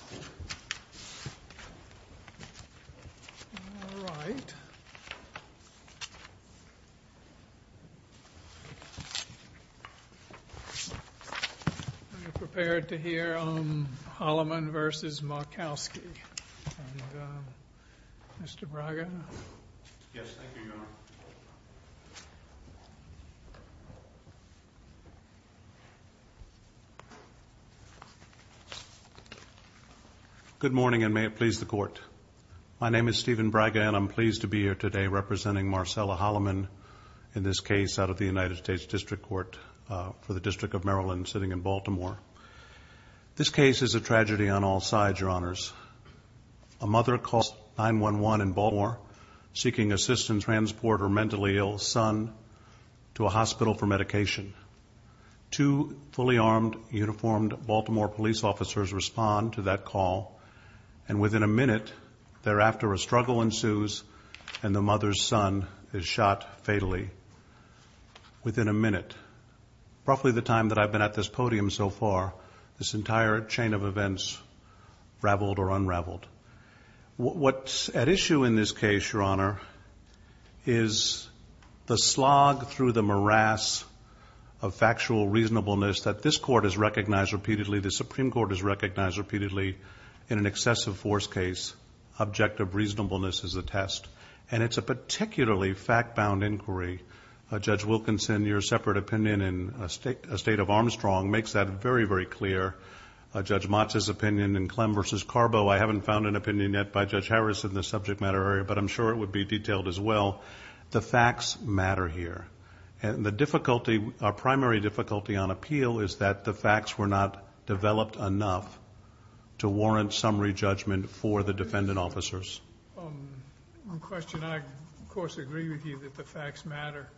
Are you prepared to hear Holloman v. Markowski? Good morning and may it please the Court. My name is Stephen Braga and I am pleased to be here today representing Marcella Holloman in this case out of the United States District Court for the District of Maryland sitting in Baltimore. This case is a tragedy on all sides, Your Honors. A mother calls 911 in Baltimore seeking assistance to transport her mentally ill son to a hospital for medication. Two fully armed, uniformed Baltimore police officers respond to that call and within a minute thereafter a struggle ensues and the mother's son is shot fatally. Within a minute. Roughly the time that I've been at this podium so far, this entire chain of events raveled or unraveled. What's at issue in this case, Your Honor, is the slog through the morass of factual reasonableness that this Court has recognized repeatedly, the Supreme Court has recognized repeatedly in an excessive force case, objective reasonableness is a test. And it's a particularly fact-bound inquiry. Judge Wilkinson, your separate opinion in a State of Armstrong makes that very, very clear. Judge Motz's opinion in Clem v. Carbo, I haven't found an opinion yet by Judge Harris in the subject matter area, but I'm sure it would be detailed as well. The facts matter here. And the difficulty, our primary difficulty on appeal is that the facts were not developed enough to warrant summary judgment for the defendant officers. Your Honor, on the first question, I, of course, agree with you that the facts matter.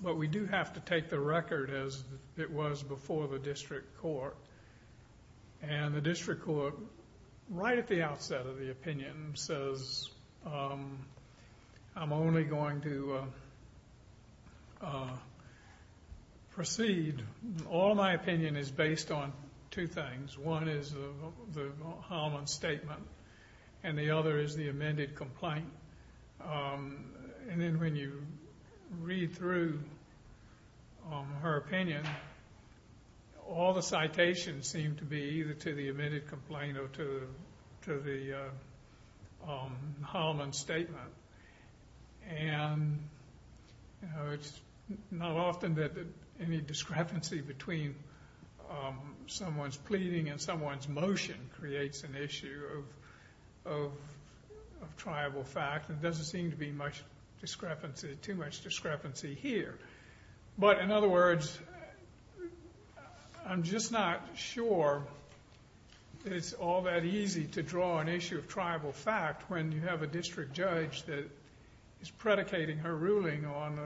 But we do have to take the record as it was before the District Court. And the District Court, right at the outset of the opinion, says, I'm only going to proceed. All my opinion is based on two things. One is the Heilman statement, and the other is the amended complaint. And then when you read through her opinion, all the citations seem to be either to the amended complaint or to the Heilman statement. And, you know, it's not often that any discrepancy between someone's pleading and someone's motion creates an issue of triable fact, and there doesn't seem to be much discrepancy, too much discrepancy here. But in other words, I'm just not sure it's all that easy to draw an issue of triable fact when you have a district judge that is predicating her ruling on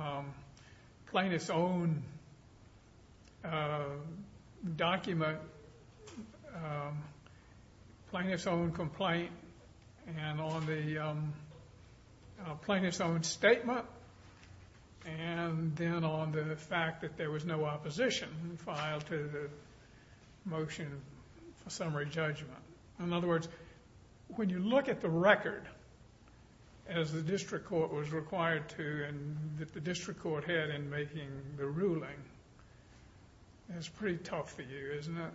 a plaintiff's own document, plaintiff's own complaint, and on the plaintiff's own statement, and then on the fact that there was no opposition filed to the motion for summary judgment. In other words, when you look at the record as the district court was required to and that the district court had in making the ruling, it's pretty tough for you, isn't it?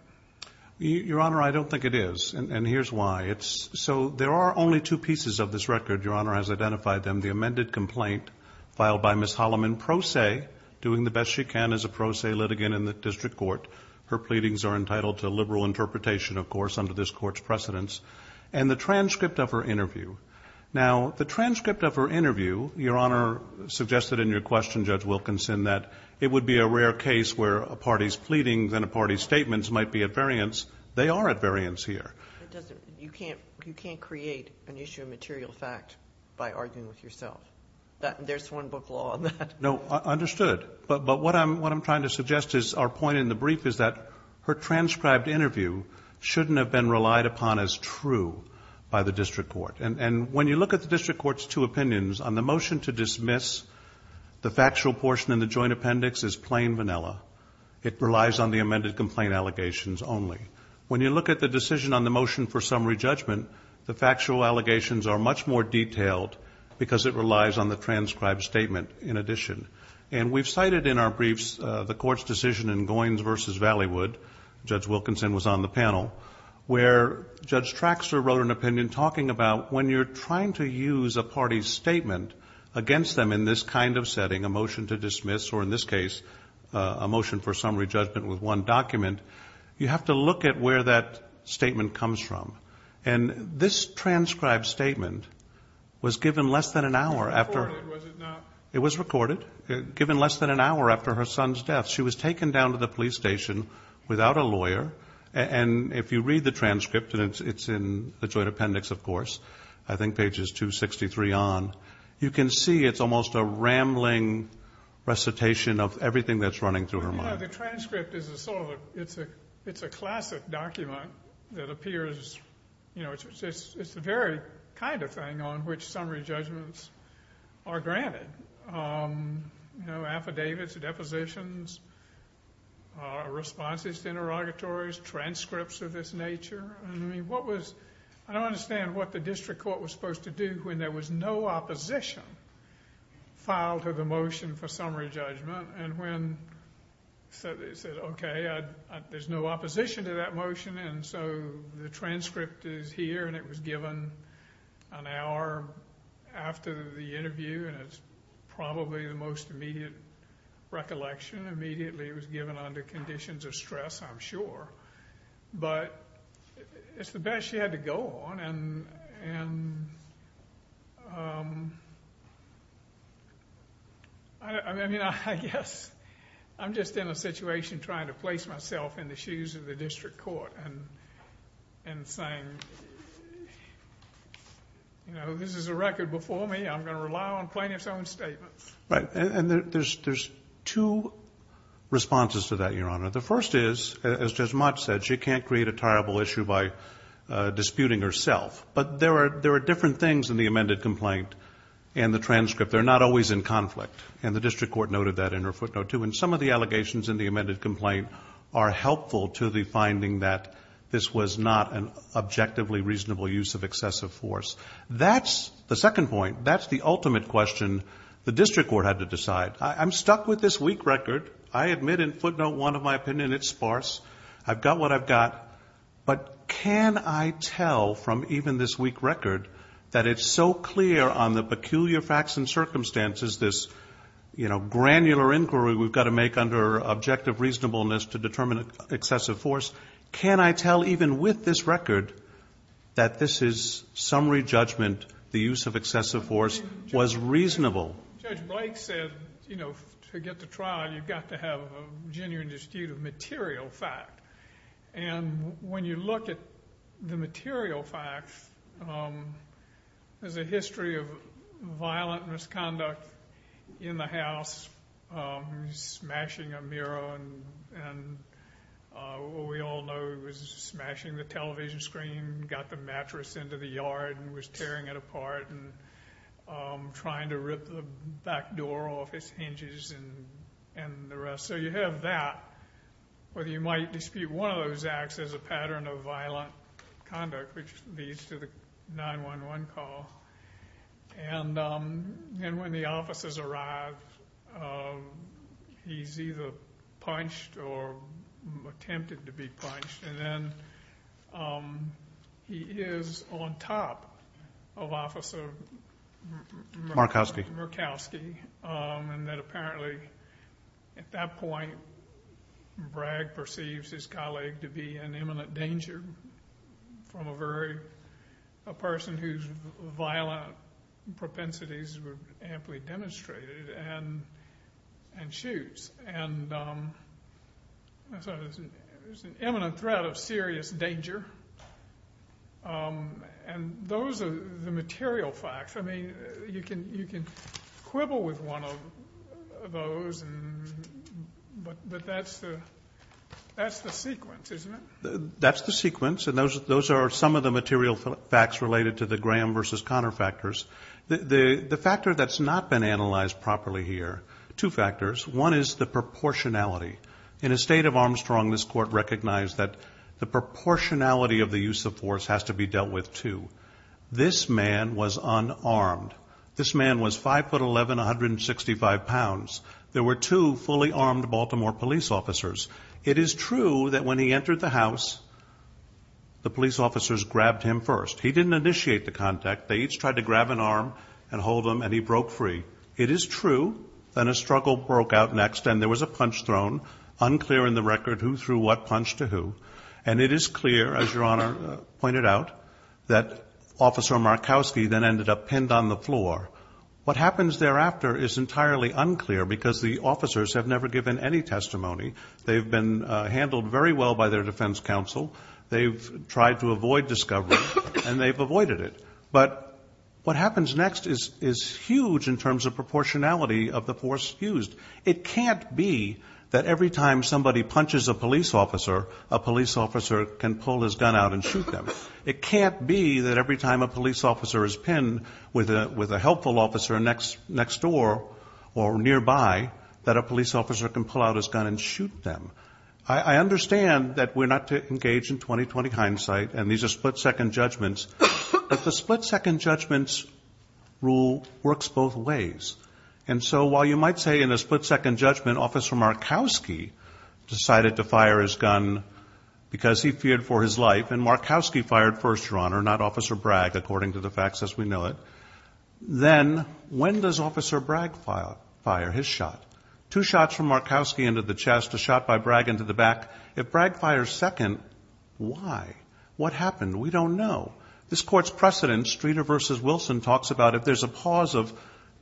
Your Honor, I don't think it is, and here's why. So there are only two pieces of this record, Your Honor has identified them. The amended complaint filed by Ms. Heilman, pro se, doing the best she can as a pro se litigant in the district court. Her pleadings are entitled to liberal interpretation, of course, under this Court's precedence. And the transcript of her interview. Now, the transcript of her interview, Your Honor suggested in your question, Judge Wilkinson, that it would be a rare case where a party's pleadings and a party's statements might be at variance. They are at variance here. You can't create an issue of material fact by arguing with yourself. There's one book law on that. No, understood. But what I'm trying to suggest is our point in the brief is that her transcribed interview shouldn't have been relied upon as true by the district court. And when you look at the district court's two opinions on the motion to dismiss, the factual portion in the joint appendix is plain vanilla. It relies on the amended complaint allegations only. When you look at the decision on the motion for summary judgment, the factual allegations are much more detailed, because it relies on the transcribed statement in addition. And we've cited in our briefs the court's decision in Goins v. Valleywood, Judge Wilkinson was on the panel, where Judge Traxtor wrote an opinion talking about when you're trying to use a party's statement against them in this kind of setting, a motion to dismiss, or in this case, a motion for summary judgment with one document, you have to look at where that statement comes from. And this transcribed statement was given less than an hour after- It was recorded, was it not? Given less than an hour after her son's death, she was taken down to the police station without a lawyer. And if you read the transcript, and it's in the joint appendix, of course, I think pages 263 on, you can see it's almost a rambling recitation of everything that's running through her mind. The transcript is a sort of, it's a classic document that appears, you know, it's the very kind of thing on which summary judgments are granted. You know, affidavits, depositions, responses to interrogatories, transcripts of this nature. I mean, what was, I don't understand what the district court was supposed to do when there was no opposition filed to the motion for summary judgment. And when, so they said, okay, there's no opposition to that motion, and so the transcript is here, and it was given an hour after the interview, and it's probably the most immediate recollection. Immediately, it was given under conditions of stress, I'm sure. But it's the best she had to go on. And, I mean, I guess I'm just in a situation trying to place myself in the shoes of the district court and saying, you know, this is a record before me. I'm going to rely on plaintiff's own statements. Right, and there's two responses to that, Your Honor. The first is, as Judge Mott said, she can't create a terrible issue by disputing herself. But there are different things in the amended complaint and the transcript. They're not always in conflict, and the district court noted that in her footnote, too. And some of the allegations in the amended complaint are helpful to the finding that this was not an objectively reasonable use of excessive force. That's the second point. That's the ultimate question the district court had to decide. I'm stuck with this weak record. I admit in footnote one of my opinion, it's sparse. I've got what I've got. But can I tell from even this weak record that it's so clear on the peculiar facts and circumstances, this, you know, granular inquiry we've got to make under objective reasonableness to determine excessive force. Can I tell even with this record that this is summary judgment, the use of excessive force was reasonable? Judge Blake said, you know, to get to trial, you've got to have a genuine dispute of material fact, and when you look at the material facts, there's a history of violent conduct, which leads to the 9-1-1 call, and when the officers arrive, he's either punched or attempted to be punched, and then he is on top of Officer Murkowski, and then apparently at that point, Bragg perceives his colleague to be in imminent danger from a person whose violent propensities were amply demonstrated and shoots. And so there's an imminent threat of serious danger, and those are the material facts. I mean, you can quibble with one of those, but that's the sequence, isn't it? That's the sequence, and those are some of the material facts related to the Graham versus Conner factors. The factor that's not been analyzed properly here, two factors. One is the proportionality. In a state of Armstrong, this court recognized that the proportionality of the use of force has to be dealt with, too. This man was unarmed. This man was 5'11", 165 pounds. There were two fully armed Baltimore police officers. It is true that when he entered the house, the police officers grabbed him first. He didn't initiate the contact. They each tried to grab an arm and hold him, and he broke free. It is true that a struggle broke out next, and there was a punch thrown, unclear in the record who threw what punch to who. And it is clear, as Your Honor pointed out, that Officer Markowski then ended up pinned on the floor. What happens thereafter is entirely unclear because the officers have never given any testimony. They've been handled very well by their defense counsel. They've tried to avoid discovery, and they've avoided it. But what happens next is huge in terms of proportionality of the force used. It can't be that every time somebody punches a police officer, a police officer can pull his gun out and shoot them. It can't be that every time a police officer is pinned with a helpful officer next door or nearby, that a police officer can pull out his gun and shoot them. I understand that we're not to engage in 20-20 hindsight, and these are split-second judgments, but the split-second judgments rule works both ways. And so while you might say in a split-second judgment, Officer Markowski decided to fire his gun because he feared for his life, and Markowski fired first, Your Honor, not Officer Bragg, according to the facts as we know it, then when does Officer Bragg fire his shot? Two shots from Markowski into the chest, a shot by Bragg into the back. If Bragg fires second, why? What happened? We don't know. This Court's precedent, Streeter v. Wilson, talks about if there's a pause of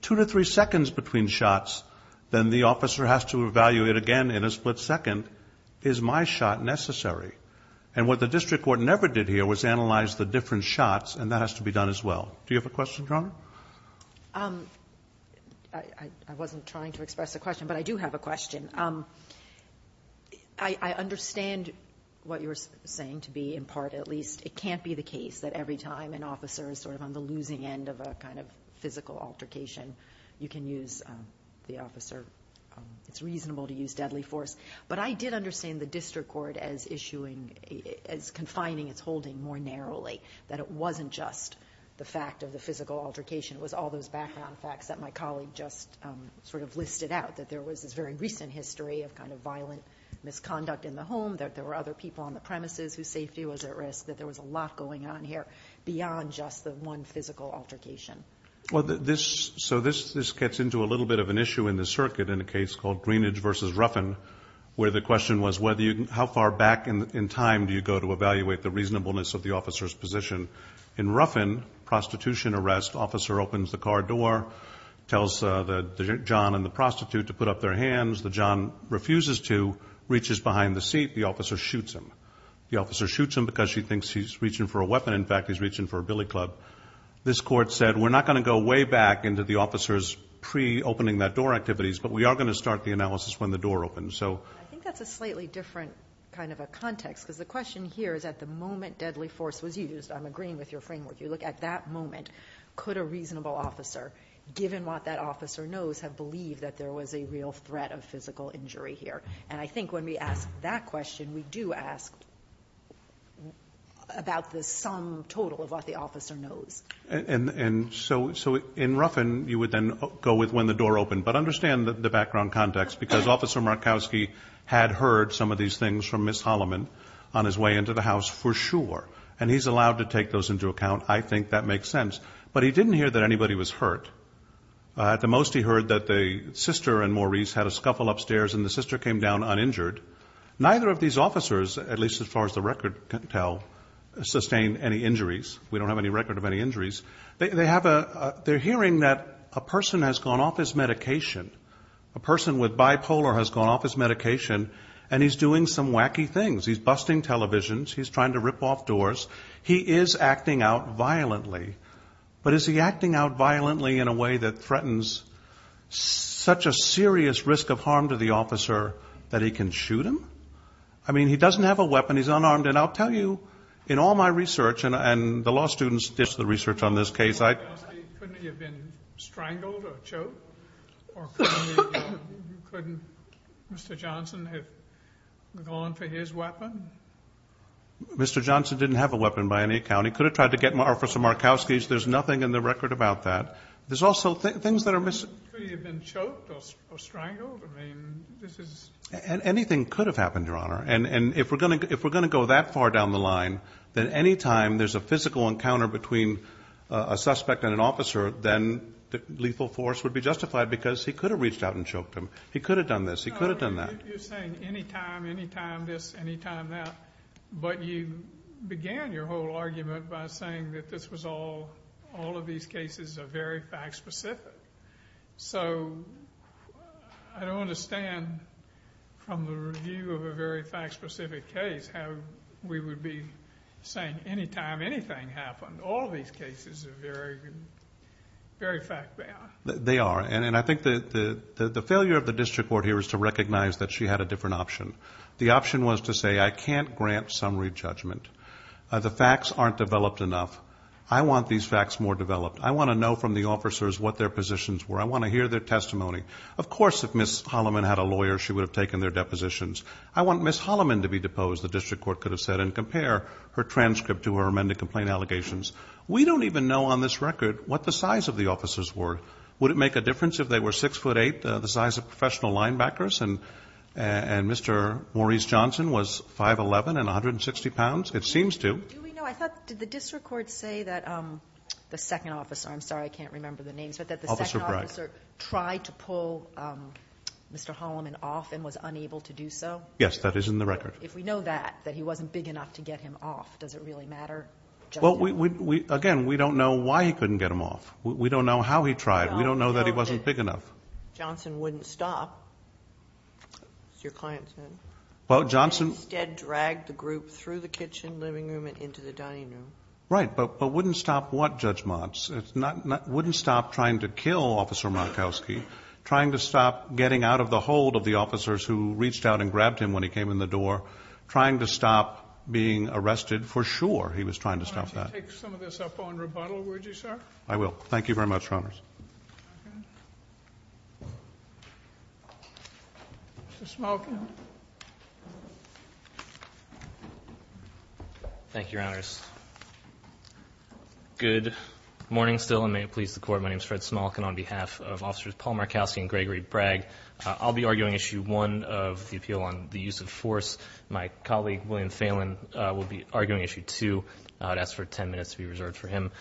two to three seconds between shots, then the officer has to evaluate again in a split second, is my shot necessary? And what the district court never did here was analyze the different shots, and that has to be done as well. Do you have a question, Your Honor? Um, I wasn't trying to express a question, but I do have a question. Um, I understand what you're saying to be, in part at least, it can't be the case that every time an officer is sort of on the losing end of a kind of physical altercation, you can use the officer. It's reasonable to use deadly force. But I did understand the district court as issuing, as confining its holding more narrowly, that it wasn't just the fact of the physical altercation. It was all those background facts that my colleague just sort of listed out, that there was this very recent history of kind of violent misconduct in the home, that there were other people on the premises whose safety was at risk, that there was a lot going on here beyond just the one physical altercation. Well, this, so this, this gets into a little bit of an issue in the circuit in a case called Greenidge v. Ruffin, where the question was whether you, how far back in time do you go to evaluate the reasonableness of the officer's position? In Ruffin, prostitution arrest, officer opens the car door, tells the, John and the woman to put up their hands, the John refuses to, reaches behind the seat, the officer shoots him. The officer shoots him because she thinks he's reaching for a weapon. In fact, he's reaching for a billy club. This Court said, we're not going to go way back into the officer's pre-opening that door activities, but we are going to start the analysis when the door opens. So. I think that's a slightly different kind of a context, because the question here is, at the moment deadly force was used, I'm agreeing with your framework, you look at that moment, could a reasonable officer, given what that officer knows, have believed that there was a real threat of physical injury here? And I think when we ask that question, we do ask about the sum total of what the officer knows. And, and so, so in Ruffin, you would then go with when the door opened. But understand the background context, because Officer Markowski had heard some of these things from Ms. Holloman on his way into the house for sure. And he's allowed to take those into account. I think that makes sense. But he didn't hear that anybody was hurt. At the most he heard that the sister and Maurice had a scuffle upstairs and the sister came down uninjured. Neither of these officers, at least as far as the record can tell, sustained any injuries. We don't have any record of any injuries. They have a, they're hearing that a person has gone off his medication. A person with bipolar has gone off his medication and he's doing some wacky things. He's busting televisions. He's trying to rip off doors. He is acting out violently. But is he acting out violently in a way that threatens such a serious risk of harm to the officer that he can shoot him? I mean, he doesn't have a weapon. He's unarmed. And I'll tell you, in all my research and the law students did the research on this case, I... Couldn't he have been strangled or choked? Or couldn't Mr. Johnson have gone for his weapon? Mr. Johnson didn't have a weapon by any account. He could have tried to get Officer Markowski's. There's nothing in the record about that. There's also things that are... Couldn't he have been choked or strangled? I mean, this is... And anything could have happened, Your Honor. And if we're going to go that far down the line, then anytime there's a physical encounter between a suspect and an officer, then lethal force would be justified because he could have reached out and choked him. He could have done this. He could have done that. You're saying anytime, anytime this, anytime that. But you began your whole argument by saying that this was all, all of these cases are very fact-specific. So I don't understand from the review of a very fact-specific case how we would be saying anytime anything happened, all of these cases are very, very fact-bound. They are. And I think that the failure of the district court here is to recognize that she had a different option. The option was to say, I can't grant summary judgment. The facts aren't developed enough. I want these facts more developed. I want to know from the officers what their positions were. I want to hear their testimony. Of course, if Ms. Holloman had a lawyer, she would have taken their depositions. I want Ms. Holloman to be deposed, the district court could have said, and compare her transcript to her amended complaint allegations. We don't even know on this record what the size of the officers were. Would it make a difference if they were six foot eight, the size of professional linebackers, and Mr. Maurice Johnson was 5'11 and 160 pounds? It seems to. Do we know, I thought, did the district court say that the second officer, I'm sorry, I can't remember the names, but that the second officer tried to pull Mr. Holloman off and was unable to do so? Yes, that is in the record. If we know that, that he wasn't big enough to get him off, does it really matter? Well, again, we don't know why he couldn't get him off. We don't know how he tried. We don't know that he wasn't big enough. Johnson wouldn't stop, as your client said, and instead dragged the group through the kitchen, living room, and into the dining room. Right. But wouldn't stop what, Judge Motz? It's not, wouldn't stop trying to kill Officer Murkowski, trying to stop getting out of the hold of the officers who reached out and grabbed him when he came in the door, trying to stop being arrested. For sure, he was trying to stop that. Why don't you take some of this up on rebuttal, would you, sir? I will. Thank you very much, Your Honors. Mr. Smolkin. Thank you, Your Honors. Good morning still, and may it please the Court. My name is Fred Smolkin on behalf of Officers Paul Murkowski and Gregory Bragg. I'll be arguing issue one of the appeal on the use of force. My colleague, William Phelan, will be arguing issue two. I would ask for 10 minutes to be reserved for him.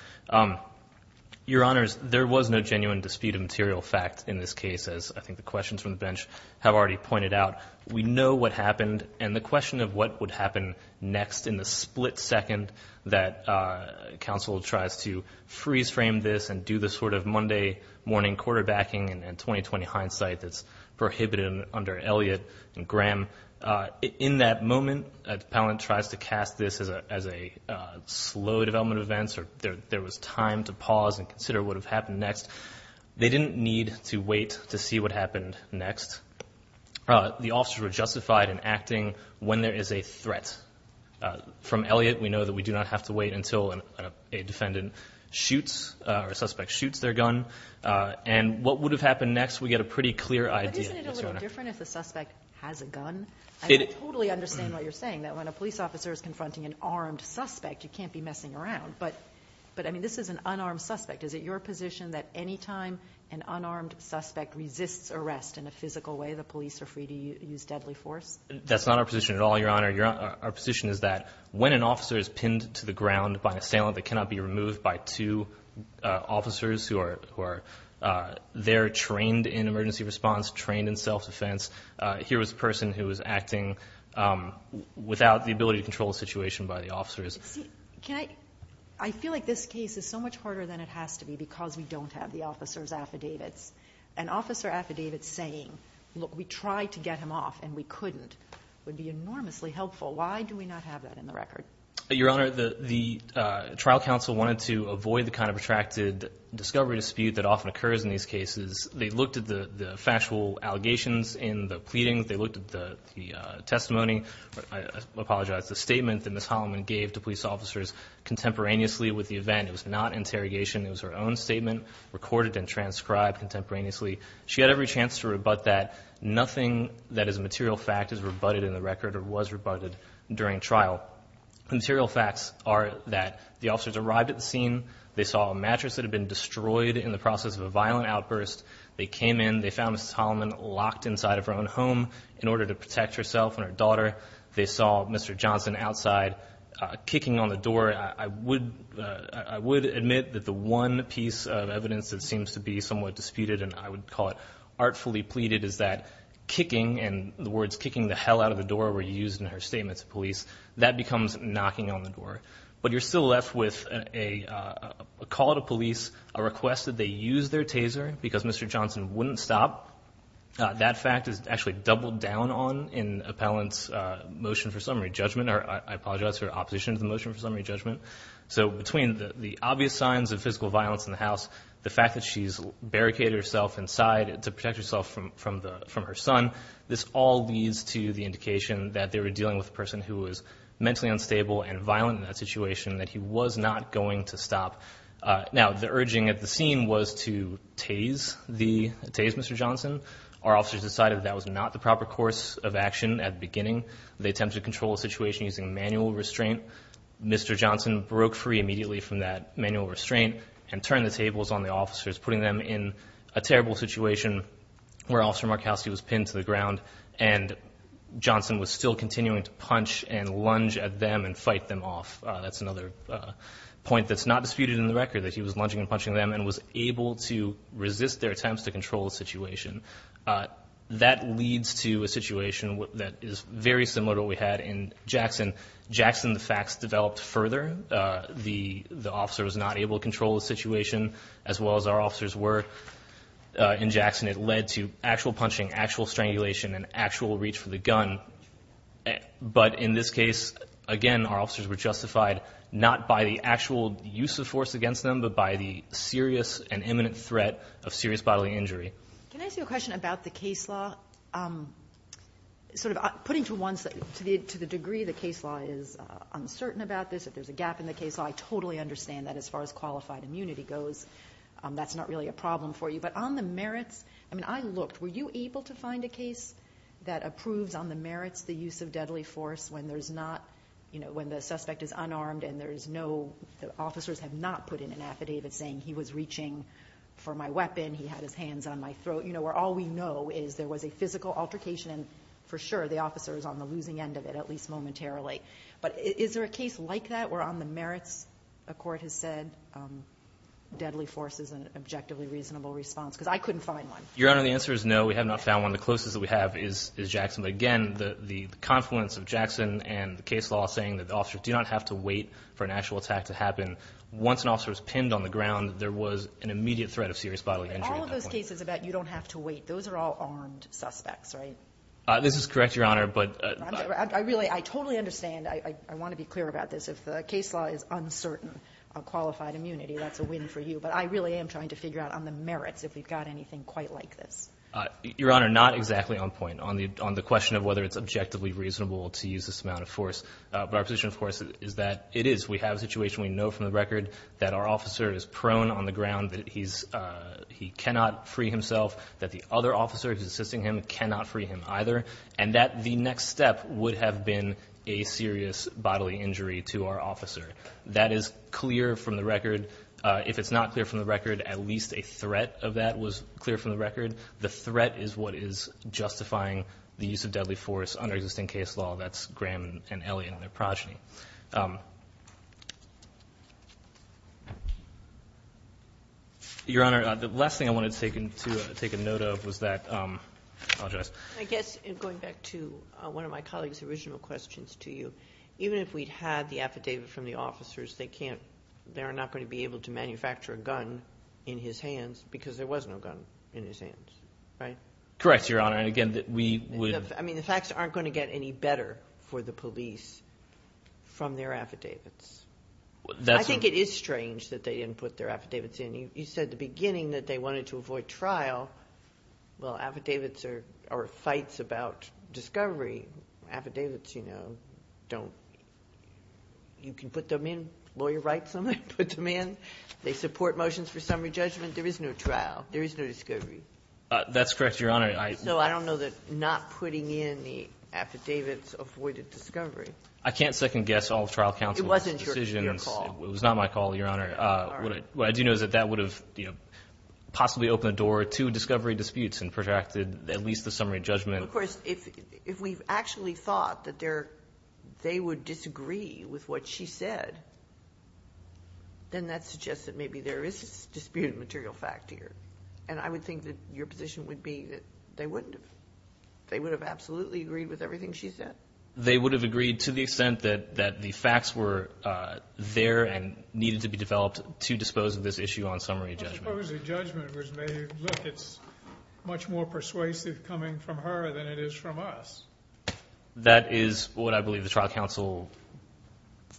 Your Honors, there was no genuine dispute of material fact in this case, as I think the questions from the bench have already pointed out. We know what happened, and the question of what would happen next in the split second that counsel tries to freeze frame this and do the sort of Monday morning quarterbacking and 2020 hindsight that's prohibited under Elliott and Graham. In that moment, Phelan tries to cast this as a, as a slow development of events, or there was time to pause and consider what would have happened next. They didn't need to wait to see what happened next. The officers were justified in acting when there is a threat. From Elliott, we know that we do not have to wait until a defendant shoots, or a suspect shoots their gun, and what would have happened next, we get a pretty clear idea, Your Honor. But isn't it a little different if the suspect has a gun? If you're dealing with an armed suspect, you can't be messing around, but, but I mean, this is an unarmed suspect. Is it your position that any time an unarmed suspect resists arrest in a physical way, the police are free to use deadly force? That's not our position at all, Your Honor. Your, our position is that when an officer is pinned to the ground by an assailant that cannot be removed by two officers who are, who are, they're trained in emergency response, trained in self-defense, here was a person who was acting without the ability to control the situation by the officers. See, can I, I feel like this case is so much harder than it has to be because we don't have the officer's affidavits. An officer affidavit saying, look, we tried to get him off and we couldn't, would be enormously helpful. Why do we not have that in the record? Your Honor, the, the trial counsel wanted to avoid the kind of protracted discovery dispute that often occurs in these cases. They looked at the, the factual allegations in the pleadings. They looked at the, the testimony. I apologize, the statement that Ms. Holloman gave to police officers contemporaneously with the event. It was not interrogation. It was her own statement recorded and transcribed contemporaneously. She had every chance to rebut that. Nothing that is a material fact is rebutted in the record or was rebutted during trial. Material facts are that the officers arrived at the scene. They saw a mattress that had been destroyed in the process of a violent outburst. They came in, they found Ms. Holloman herself and her daughter. They saw Mr. Johnson outside kicking on the door. I would, I would admit that the one piece of evidence that seems to be somewhat disputed and I would call it artfully pleaded is that kicking and the words kicking the hell out of the door were used in her statement to police. That becomes knocking on the door, but you're still left with a, a call to police, a request that they use their taser because Mr. Johnson wouldn't stop. That fact is actually doubled down on in appellant's motion for summary judgment, or I apologize for opposition to the motion for summary judgment. So between the obvious signs of physical violence in the house, the fact that she's barricaded herself inside to protect herself from, from the, from her son, this all leads to the indication that they were dealing with a person who was mentally unstable and violent in that situation, that he was not going to stop. Now, the urging at the scene was to tase the, tase Mr. Johnson, our officers decided that was not the proper course of action. At the beginning, they attempted to control the situation using manual restraint. Mr. Johnson broke free immediately from that manual restraint and turned the tables on the officers, putting them in a terrible situation where officer Markowski was pinned to the ground and Johnson was still continuing to punch and lunge at them and fight them off. That's another point that's not disputed in the record that he was lunging and punching them and was able to resist their attempts to control the situation. That leads to a situation that is very similar to what we had in Jackson. Jackson, the facts developed further the, the officer was not able to control the situation as well as our officers were in Jackson. It led to actual punching, actual strangulation and actual reach for the not by the actual use of force against them, but by the serious and imminent threat of serious bodily injury. Can I ask you a question about the case law? I'm sort of putting to one side to the, to the degree of the case law is uncertain about this. If there's a gap in the case, I totally understand that as far as qualified immunity goes. Um, that's not really a problem for you, but on the merits, I mean, I looked, were you able to find a case that approves on the merits, the use of deadly force when there's not, you know, when the suspect is unarmed and there's no, the officers have not put in an affidavit saying he was reaching for my weapon. He had his hands on my throat, you know, where all we know is there was a physical altercation and for sure the officer was on the losing end of it, at least momentarily. But is there a case like that where on the merits a court has said, um, deadly force is an objectively reasonable response? Cause I couldn't find one. Your Honor, the answer is no, we have not found one. The closest that we have is, is Jackson. Again, the, the confluence of Jackson and the case law saying that the officers do not have to wait for an actual attack to happen. Once an officer is pinned on the ground, there was an immediate threat of serious bodily injury. All of those cases about you don't have to wait, those are all armed suspects, right? Uh, this is correct, Your Honor. But, uh, I really, I totally understand. I want to be clear about this. If the case law is uncertain of qualified immunity, that's a win for you. But I really am trying to figure out on the merits, if we've got anything quite like this. Uh, Your Honor, not exactly on point. On the, on the question of whether it's objectively reasonable to use this amount of force. Uh, but our position, of course, is that it is, we have a situation, we know from the record that our officer is prone on the ground, that he's, uh, he cannot free himself, that the other officer who's assisting him cannot free him either. And that the next step would have been a serious bodily injury to our officer. That is clear from the record. Uh, if it's not clear from the record, at least a threat of that was clear from the record. The threat is what is justifying the use of deadly force under existing case law. That's Graham and Elliott and their progeny. Um, Your Honor, the last thing I wanted to take into, uh, take a note of was that, um, I guess going back to, uh, one of my colleagues original questions to you, even if we'd had the affidavit from the officers, they can't, they're not going to be able to manufacture a gun in his hands because there was no gun in his hands. Right? Correct. Your Honor. And again, that we would have, I mean, the facts aren't going to get any better for the police from their affidavits. I think it is strange that they didn't put their affidavits in. You said at the beginning that they wanted to avoid trial. Well, affidavits are, are fights about discovery. Affidavits, you know, don't, you can put them in, lawyer writes them, they put them in, they support motions for summary judgment. There is no trial. There is no discovery. That's correct. Your Honor. I, so I don't know that not putting in the affidavits avoided discovery. I can't second guess all of trial counsel's decisions. It was not my call, Your Honor. Uh, what I do know is that that would have possibly opened the door to discovery disputes and protracted at least the summary judgment. Of course, if, if we've actually thought that they're, they would disagree with what she said, then that suggests that maybe there is this disputed material fact here, and I would think that your position would be that they wouldn't have, they would have absolutely agreed with everything she said. They would have agreed to the extent that, that the facts were, uh, there and needed to be developed to dispose of this issue on summary judgment. I suppose the judgment was made, look, it's much more persuasive coming from her than it is from us. That is what I believe the trial counsel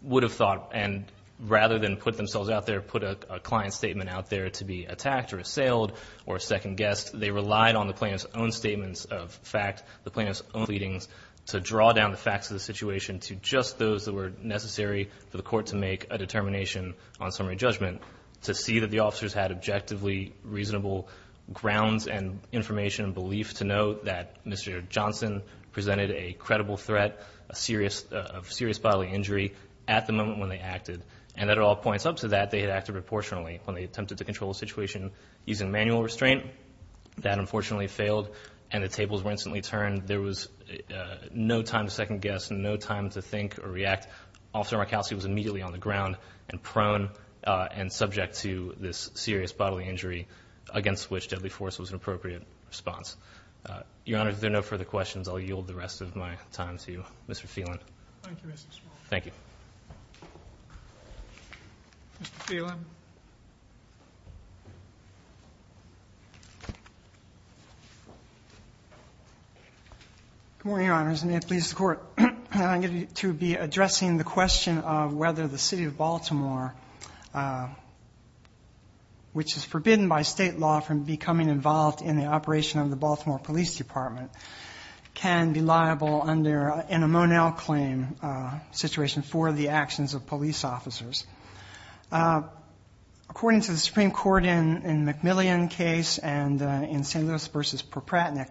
would have thought. And rather than put themselves out there, put a client statement out there to be attacked or assailed or second guessed, they relied on the plaintiff's own statements of fact, the plaintiff's own pleadings to draw down the facts of the situation to just those that were necessary for the court to make a determination on summary judgment. To see that the officers had objectively reasonable grounds and information and belief to know that Mr. Johnson presented a credible threat, a serious, uh, of serious bodily injury at the moment when they acted and that it all points up to that they had acted proportionately when they attempted to control the situation using manual restraint, that unfortunately failed and the tables were instantly turned. There was no time to second guess and no time to think or react. Officer Markowski was immediately on the ground and prone, uh, and subject to this serious bodily injury against which deadly force was an appropriate response. Uh, Your Honor, if there are no further questions, I'll yield the rest of my time to you, Mr. Phelan. Thank you, Mr. Small. Thank you. Mr. Phelan. Good morning, Your Honors. May it please the Court. I'm going to be addressing the question of whether the City of Baltimore, uh, which is forbidden by State law from becoming involved in the operation of the Baltimore Police Department, can be liable under, in a Monell claim, uh, under the actions of police officers. Uh, according to the Supreme Court in, in McMillian case and, uh, in St. Louis versus Propratnick,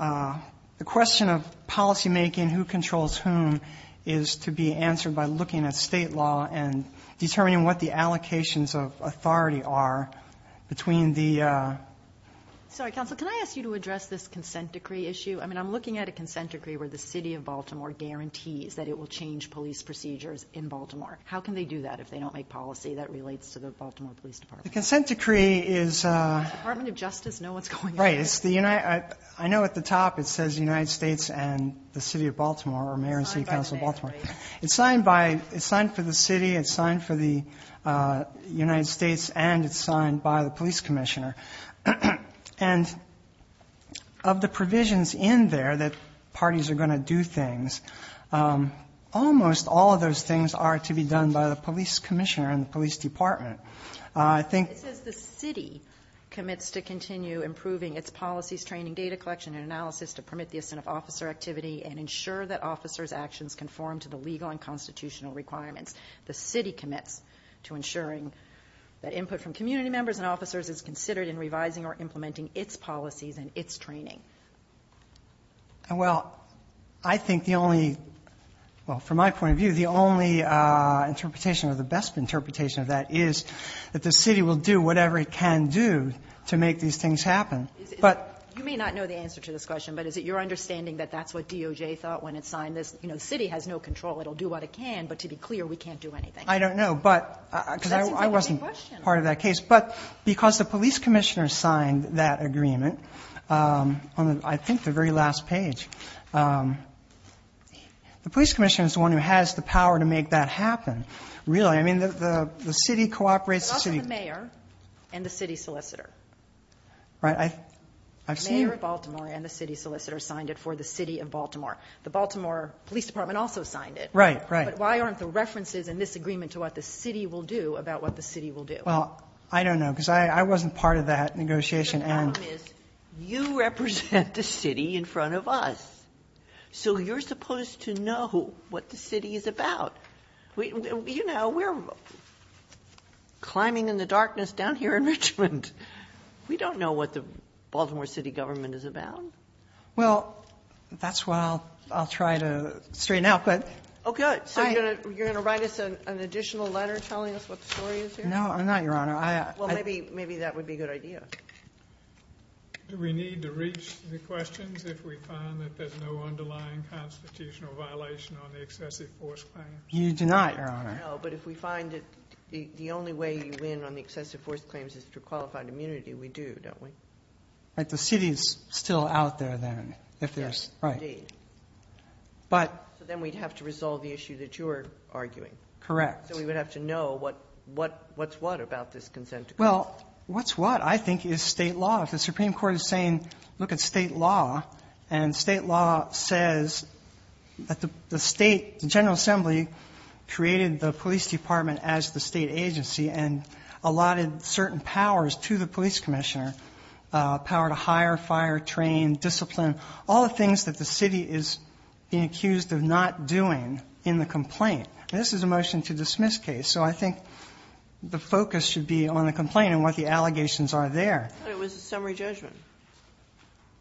uh, the question of policymaking, who controls whom is to be answered by looking at State law and determining what the allocations of authority are between the, uh. Sorry, counsel. Can I ask you to address this consent decree issue? I mean, I'm looking at a consent decree where the City of Baltimore guarantees that it will change police procedures in Baltimore. How can they do that if they don't make policy that relates to the Baltimore Police Department? The consent decree is, uh. Does the Department of Justice know what's going on? Right. It's the United, I know at the top it says United States and the City of Baltimore or Mayor and City Council of Baltimore. It's signed by, it's signed for the City, it's signed for the, uh, United States and it's signed by the police commissioner. And of the provisions in there that parties are going to do things, um, almost all of those things are to be done by the police commissioner and the police department, uh, I think. It says the City commits to continue improving its policies, training, data collection and analysis to permit the assent of officer activity and ensure that officer's actions conform to the legal and constitutional requirements. The City commits to ensuring that input from community members and officers is considered in revising or implementing its policies and its training. And well, I think the only, well, from my point of view, the only, uh, interpretation or the best interpretation of that is that the City will do whatever it can do to make these things happen. But you may not know the answer to this question, but is it your understanding that that's what DOJ thought when it signed this, you know, City has no control. It'll do what it can, but to be clear, we can't do anything. I don't know, but I wasn't part of that case, but because the police commissioner signed that agreement, um, on the, I think the very last page, um, the police commissioner is the one who has the power to make that happen, really. I mean, the, the, the City cooperates. The Mayor and the City solicitor, right? I I've seen Baltimore and the City solicitor signed it for the City of Baltimore, the Baltimore police department also signed it, but why aren't the references in this agreement to what the City will do about what the City will do? Well, I don't know. Cause I, I wasn't part of that negotiation. And you represent the City in front of us. So you're supposed to know who, what the City is about. We, you know, we're climbing in the darkness down here in Richmond. We don't know what the Baltimore City government is about. Well, that's what I'll, I'll try to straighten out, but, oh, good. So you're going to, you're going to write us an additional letter telling us what the story is here. No, I'm not, Your Honor. I, I, Well, maybe, maybe that would be a good idea. Do we need to reach the questions if we find that there's no underlying constitutional violation on the excessive force claims? You do not, Your Honor. No, but if we find that the only way you win on the excessive force claims is through qualified immunity, we do, don't we? Right. The City's still out there then, if there's, right. But, so then we'd have to resolve the issue that you're arguing. Correct. So we would have to know what, what, what's what about this consent agreement? Well, what's what, I think, is State law. If the Supreme Court is saying, look at State law, and State law says that the, the State, the General Assembly created the police department as the State agency and allotted certain powers to the police commissioner, power to hire, fire, train, discipline, all the things that the City is being accused of not doing in the complaint. And this is a motion to dismiss case. So I think the focus should be on the complaint and what the allegations are there. But it was a summary judgment.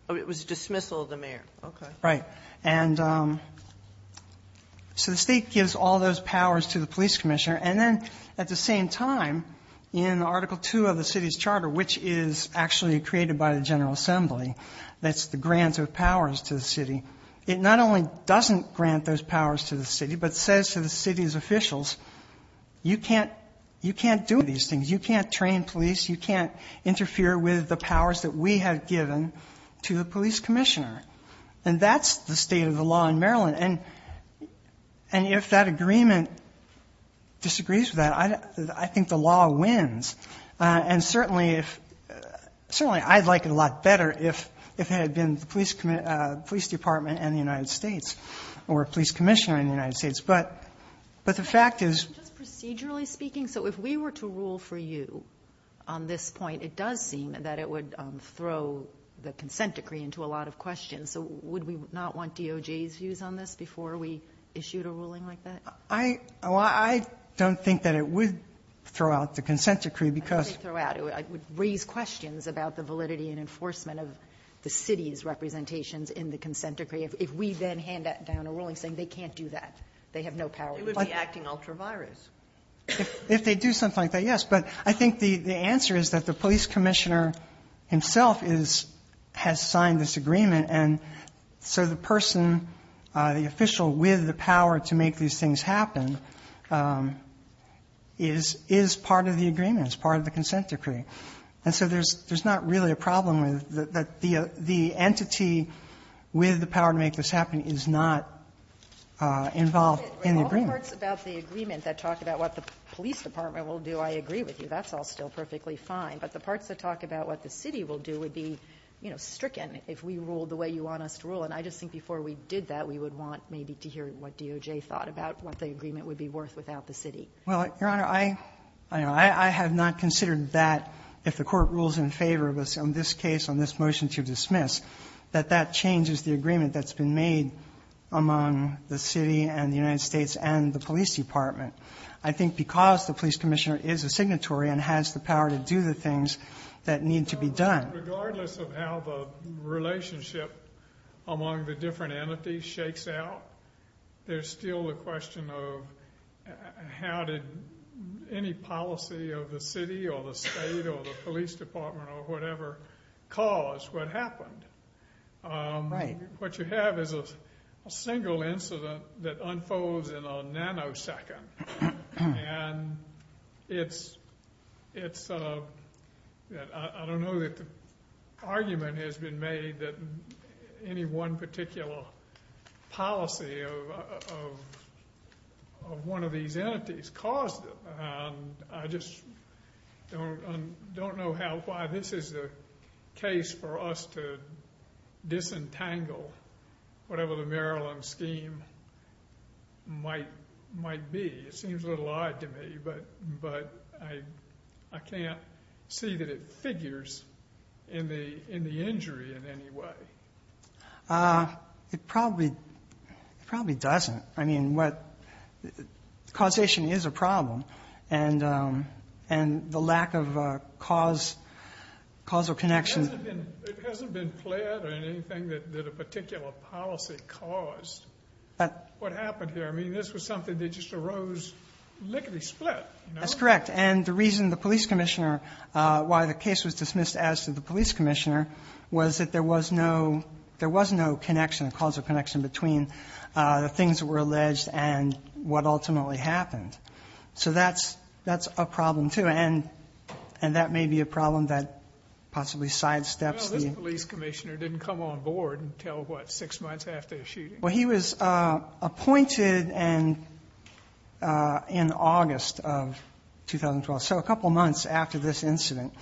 It was a dismissal of the mayor. Okay. Right. And so the State gives all those powers to the police commissioner. And then, at the same time, in Article II of the City's charter, which is actually created by the General Assembly, that's the grant of powers to the City, it not only doesn't grant those powers to the City, but says to the City's officials, you can't, you can't do these things, you can't train police, you can't interfere with the powers that we have given to the police commissioner. And that's the state of the law in Maryland. And, and if that agreement disagrees with that, I don't, I think the law wins. And certainly if, certainly I'd like it a lot better if, if it had been the police police department and the United States, or a police commissioner in the United States. But, but the fact is- Just procedurally speaking, so if we were to rule for you on this point, it does seem that it would throw the consent decree into a lot of questions. So would we not want DOJ's views on this before we issued a ruling like that? I, well, I don't think that it would throw out the consent decree because- I don't think it would throw out, it would raise questions about the validity and implications in the consent decree if, if we then hand down a ruling saying they can't do that, they have no power. It would be acting ultra-virus. If, if they do something like that, yes. But I think the, the answer is that the police commissioner himself is, has signed this agreement, and so the person, the official with the power to make these things happen is, is part of the agreement, is part of the consent decree. And so there's, there's not really a problem with that, that the, the entity with the power to make this happen is not involved in the agreement. All the parts about the agreement that talk about what the police department will do, I agree with you. That's all still perfectly fine. But the parts that talk about what the city will do would be, you know, stricken if we ruled the way you want us to rule. And I just think before we did that, we would want maybe to hear what DOJ thought about what the agreement would be worth without the city. Well, Your Honor, I, I have not considered that, if the court rules in favor of us on this case, on this motion to dismiss, that that changes the agreement that's been made among the city and the United States and the police department. I think because the police commissioner is a signatory and has the power to do the things that need to be done. Regardless of how the relationship among the different entities shakes out, there's still the question of how did any policy of the city or the state or the police department or whatever caused what happened? Right. What you have is a single incident that unfolds in a nanosecond. And it's, it's, I don't know that the argument has been made that any one particular policy of, of, of one of these entities caused it. I just don't, don't know how, why this is the case for us to disentangle whatever the Maryland scheme might, might be. It seems a little odd to me, but, but I, I can't see that it figures in the, in the injury in any way. It probably, it probably doesn't. I mean, what, causation is a problem. And, and the lack of cause, causal connection. It hasn't been, it hasn't been pled or anything that a particular policy caused. But what happened here, I mean, this was something that just arose lickety-split, you know? That's correct. And the reason the police commissioner, why the case was dismissed as to the police commissioner, was that there was no, there was no connection, causal connection between the things that were alleged and what ultimately happened. So that's, that's a problem too. And, and that may be a problem that possibly sidesteps the. This police commissioner didn't come on board until what, six months after the shooting? Well, he was appointed and in August of 2012. So a couple of months after this incident,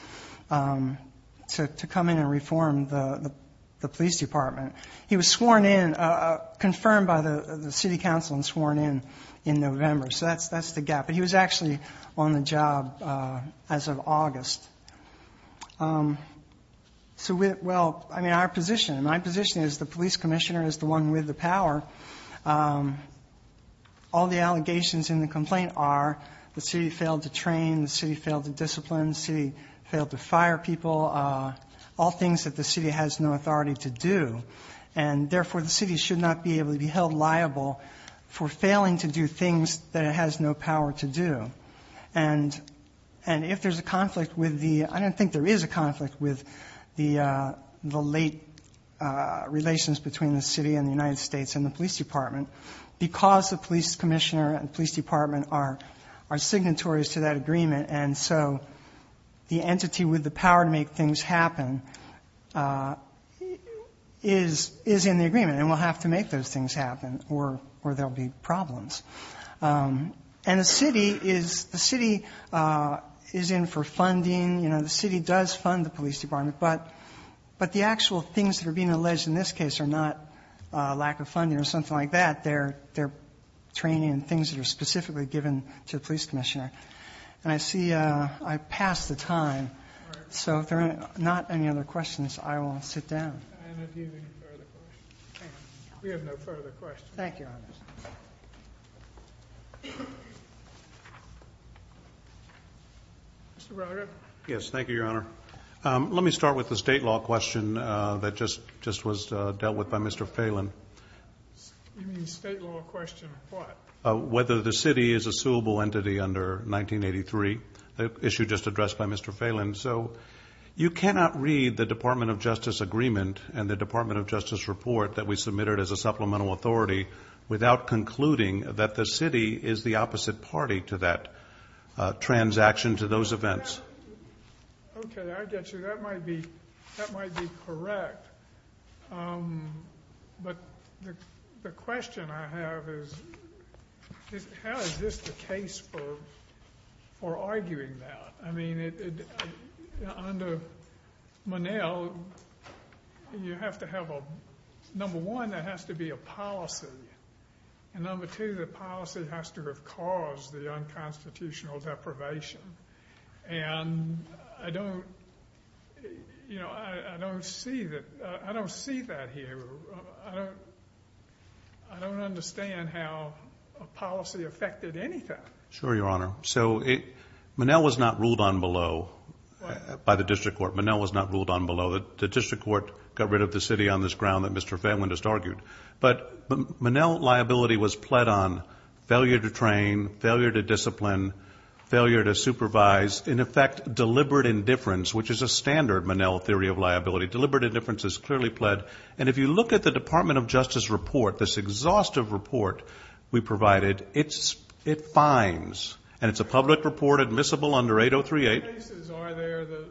to, to come in and reform the, the, the police department. He was sworn in, confirmed by the city council and sworn in, in November. So that's, that's the gap. But he was actually on the job as of August. So we, well, I mean, our position, my position is the police commissioner is the one with the power. All the allegations in the complaint are, the city failed to train, the city failed to discipline, the city failed to fire people, all things that the city has no authority to do. And therefore, the city should not be able to be held liable for failing to do things that it has no power to do. And, and if there's a conflict with the, I don't think there is a conflict with the, the late relations between the city and the United States. And the police department, because the police commissioner and police department are, are signatories to that agreement. And so the entity with the power to make things happen is, is in the agreement and will have to make those things happen or, or there'll be problems. And the city is, the city is in for funding, you know, the city does fund the police department. But, but the actual things that are being alleged in this case are not a lack of funding or something like that. They're, they're training and things that are specifically given to the police commissioner. And I see I've passed the time. So if there are not any other questions, I will sit down. And if you have any further questions. We have no further questions. Thank you, Your Honor. Mr. Broder. Yes, thank you, Your Honor. Let me start with the state law question that just, just was dealt with by Mr. Phelan. You mean state law question, what? Whether the city is a suable entity under 1983, the issue just addressed by Mr. Phelan. So you cannot read the Department of Justice agreement and the Department of Justice report that we submitted as a supplemental authority. Without concluding that the city is the opposite party to that transaction to those events. Okay, I get you. That might be, that might be correct. But the, the question I have is, is how is this the case for, for arguing that? I mean, it, it, under Monell, you have to have a, number one, there has to be a policy. And number two, the policy has to have caused the unconstitutional deprivation. And I don't, you know, I, I don't see that, I don't see that here. I don't, I don't understand how a policy affected anything. Sure, Your Honor. So it, Monell was not ruled on below by the district court. Monell was not ruled on below. The district court got rid of the city on this ground that Mr. Phelan just argued. But Monell liability was pled on failure to train, failure to discipline, failure to supervise, in effect, deliberate indifference, which is a standard Monell theory of liability. Deliberate indifference is clearly pled. And if you look at the Department of Justice report, this exhaustive report we provided, it's, it fines, and it's a public report admissible under 8038. What cases are there that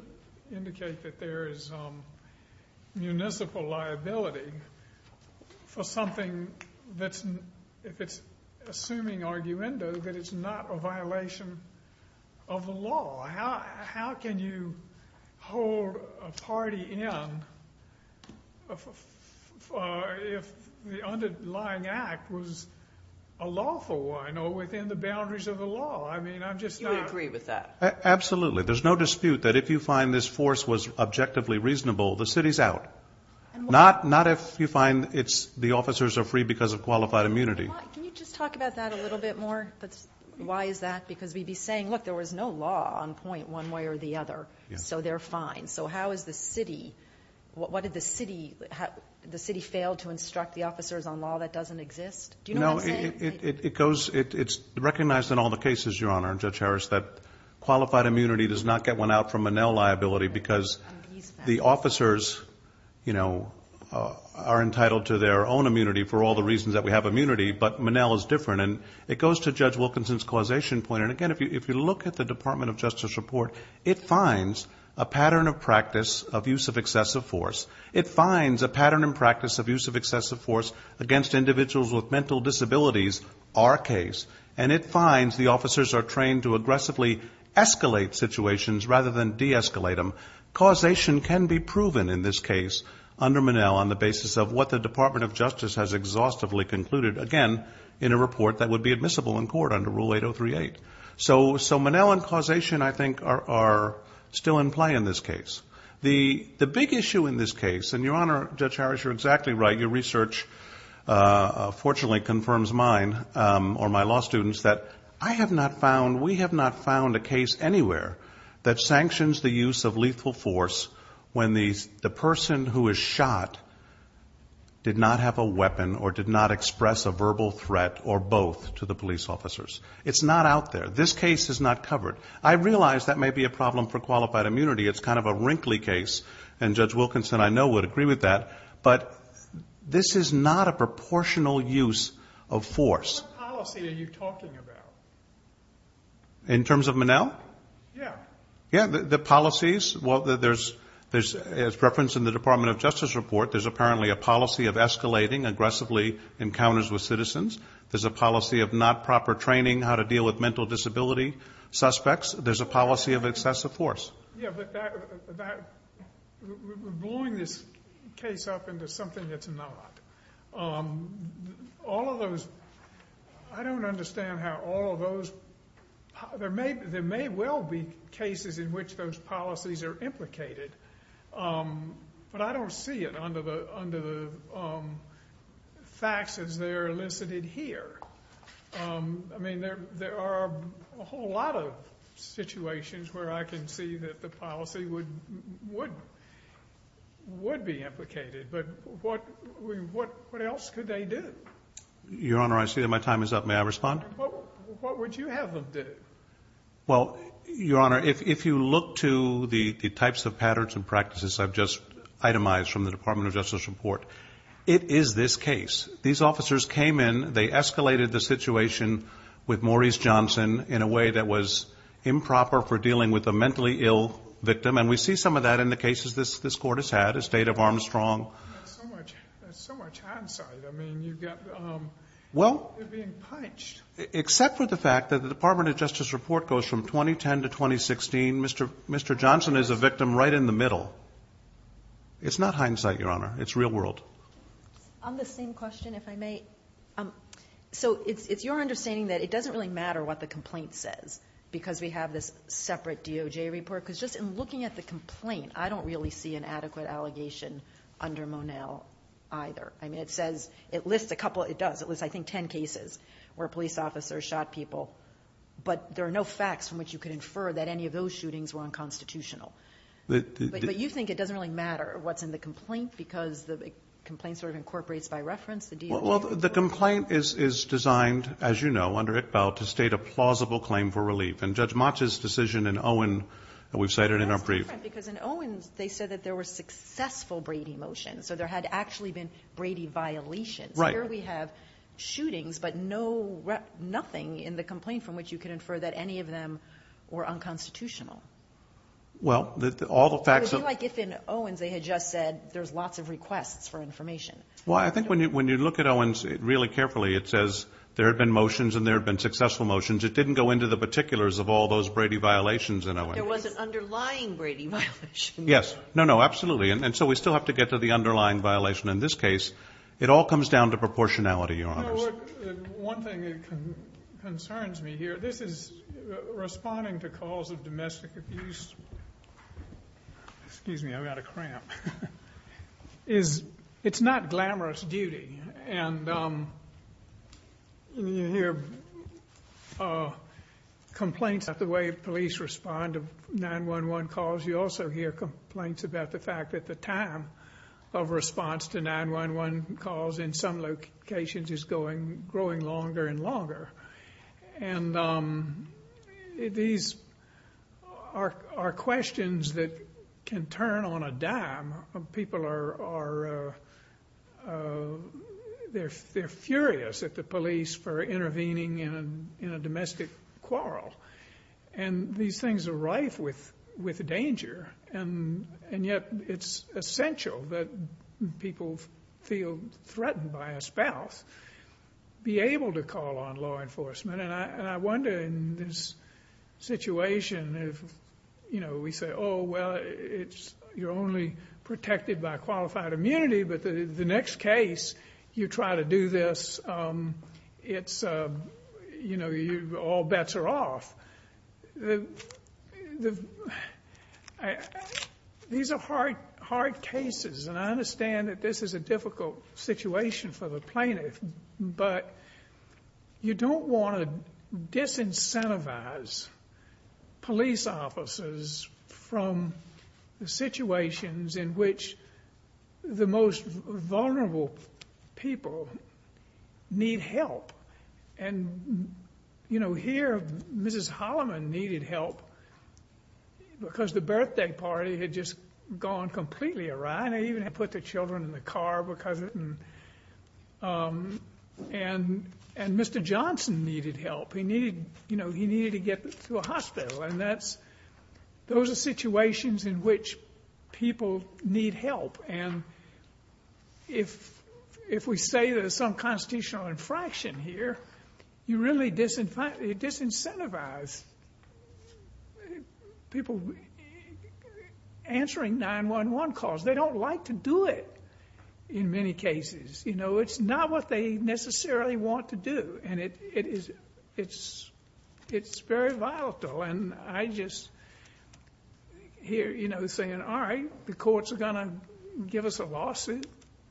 indicate that there is municipal liability for something that's, if it's assuming arguendo, that it's not a violation of the law? How, how can you hold a party in if the underlying act was a lawful one or within the boundaries of the law? I mean, I'm just not. You agree with that. Absolutely. There's no dispute that if you find this force was objectively reasonable, the city's out. Not, not if you find it's, the officers are free because of qualified immunity. Can you just talk about that a little bit more? That's, why is that? Because we'd be saying, look, there was no law on point one way or the other. So they're fine. So how is the city, what did the city, the city failed to instruct the officers on law that doesn't exist? Do you know what I'm saying? It, it, it goes, it, it's recognized in all the cases, Your Honor and Judge Harris, that qualified immunity does not get one out from Monell liability. Because the officers, you know, are entitled to their own immunity for all the reasons that we have immunity, but Monell is different. And it goes to Judge Wilkinson's causation point. And again, if you, if you look at the Department of Justice report, it finds a pattern of practice of use of excessive force. It finds a pattern and practice of use of excessive force against individuals with mental disabilities, our case. And it finds the officers are trained to aggressively escalate situations rather than de-escalate them. Causation can be proven in this case under Monell on the basis of what the Department of Justice has exhaustively concluded. Again, in a report that would be admissible in court under Rule 8038. So, so Monell and causation, I think, are, are still in play in this case. The, the big issue in this case, and Your Honor, Judge Harris, you're exactly right. Your research fortunately confirms mine or my law students that I have not found, we have not found a case anywhere that sanctions the use of lethal force when the person who is shot did not have a weapon or did not express a verbal threat or both to the police officers. It's not out there. This case is not covered. I realize that may be a problem for qualified immunity. It's kind of a wrinkly case. And Judge Wilkinson I know would agree with that. But this is not a proportional use of force. What policy are you talking about? In terms of Monell? Yeah. Yeah, the, the policies, well, there's, there's, as referenced in the Department of Justice report, there's apparently a policy of escalating aggressively encounters with citizens. There's a policy of not proper training, how to deal with mental disability suspects. There's a policy of excessive force. Yeah, but that, that, we're blowing this case up into something that's not. All of those, I don't understand how all of those, there may, there may well be cases in which those policies are implicated. But I don't see it under the, under the facts as they're elicited here. I mean, there, there are a whole lot of situations where I can see that the policy would, would, would be implicated, but what, what, what else could they do? Your Honor, I see that my time is up. May I respond? What would you have them do? Well, Your Honor, if, if you look to the, the types of patterns and practices I've just itemized from the Department of Justice report, it is this case. These officers came in, they escalated the situation with Maurice Johnson in a way that was improper for dealing with a mentally ill victim. And we see some of that in the cases this, this court has had. A state of Armstrong. That's so much, that's so much hindsight. I mean, you've got. Well. You're being punched. Except for the fact that the Department of Justice report goes from 2010 to 2016. Mr, Mr. Johnson is a victim right in the middle. It's not hindsight, Your Honor. It's real world. On the same question, if I may. So it's, it's your understanding that it doesn't really matter what the complaint says, because we have this separate DOJ report. Because just in looking at the complaint, I don't really see an adequate allegation under Monell either. I mean, it says, it lists a couple, it does. It lists, I think, ten cases where police officers shot people. But there are no facts from which you could infer that any of those shootings were unconstitutional. But, but you think it doesn't really matter what's in the complaint because the complaint sort of incorporates by reference the DOJ report? Well, well, the complaint is, is designed, as you know, under Iqbal to state a plausible claim for relief. And Judge Motch's decision in Owen, that we've cited in our brief. That's different because in Owens, they said that there were successful Brady motions, so there had actually been Brady violations. Right. So here we have shootings, but no, nothing in the complaint from which you could infer that any of them were unconstitutional. Well, the, all the facts of. I feel like if in Owens, they had just said, there's lots of requests for information. Well, I think when you, when you look at Owens really carefully, it says there had been motions and there had been successful motions. It didn't go into the particulars of all those Brady violations in Owens. There was an underlying Brady violation. Yes. No, no, absolutely. And, and so we still have to get to the underlying violation. In this case, it all comes down to proportionality, Your Honors. No, look, one thing that concerns me here, this is responding to calls of domestic abuse, excuse me, I've got a cramp, is it's not glamorous duty. And you hear complaints about the way police respond to 911 calls. You also hear complaints about the fact that the time of response to 911 calls in some locations is going, growing longer and longer. And these are questions that can turn on a dime. People are, they're furious at the police for intervening in a domestic quarrel. And these things are rife with danger. And yet it's essential that people feel threatened by a spouse be able to call on law enforcement. And I, and I wonder in this situation if, you know, we say, oh, well, it's, you're only protected by qualified immunity. But the next case you try to do this, it's, you know, you've, all bets are off. The, the, these are hard, hard cases. And I understand that this is a difficult situation for the plaintiff. But you don't want to disincentivize police officers from the situations in which the most vulnerable people need help. And, you know, here Mrs. Holloman needed help because the birthday party had just gone completely awry. And they even had to put the children in the car because of, and, and Mr. Johnson needed help. He needed, you know, he needed to get to a hospital and that's, those are situations in which people need help. And if, if we say there's some constitutional infraction here, you really disincentivize people answering 911 calls. They don't like to do it in many cases. You know, it's not what they necessarily want to do. And it, it is, it's, it's very volatile. And I just hear, you know, saying, all right, the courts are going to give us a lawsuit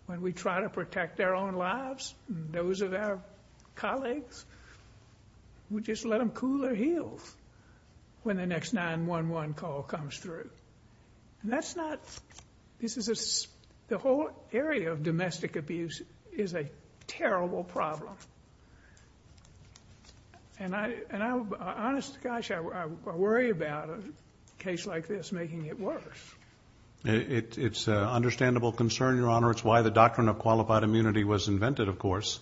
when we try to protect their own lives and those of our colleagues. We just let them cool their heels when the next 911 call comes through. And that's not, this is a, the whole area of domestic abuse is a terrible problem. And I, and I honestly, gosh, I worry about a case like this making it worse. It's a understandable concern, Your Honor. It's why the doctrine of qualified immunity was invented, of course.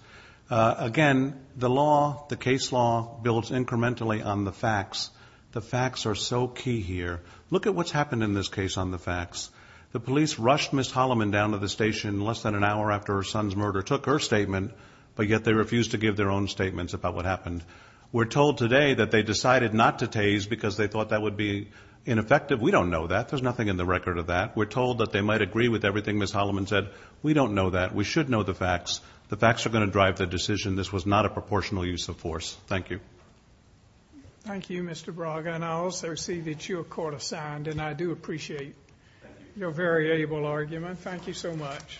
Again, the law, the case law builds incrementally on the facts. The facts are so key here. Look at what's happened in this case on the facts. The police rushed Ms. Holloman down to the station less than an hour after her son's murder took her statement, but yet they refused to give their own statements about what happened. We're told today that they decided not to tase because they thought that would be ineffective. We don't know that. There's nothing in the record of that. We're told that they might agree with everything Ms. Holloman said. We don't know that. We should know the facts. The facts are going to drive the decision. This was not a proportional use of force. Thank you. Thank you, Mr. Braga. And I also see that you're court assigned and I do appreciate your very able argument. Thank you so much.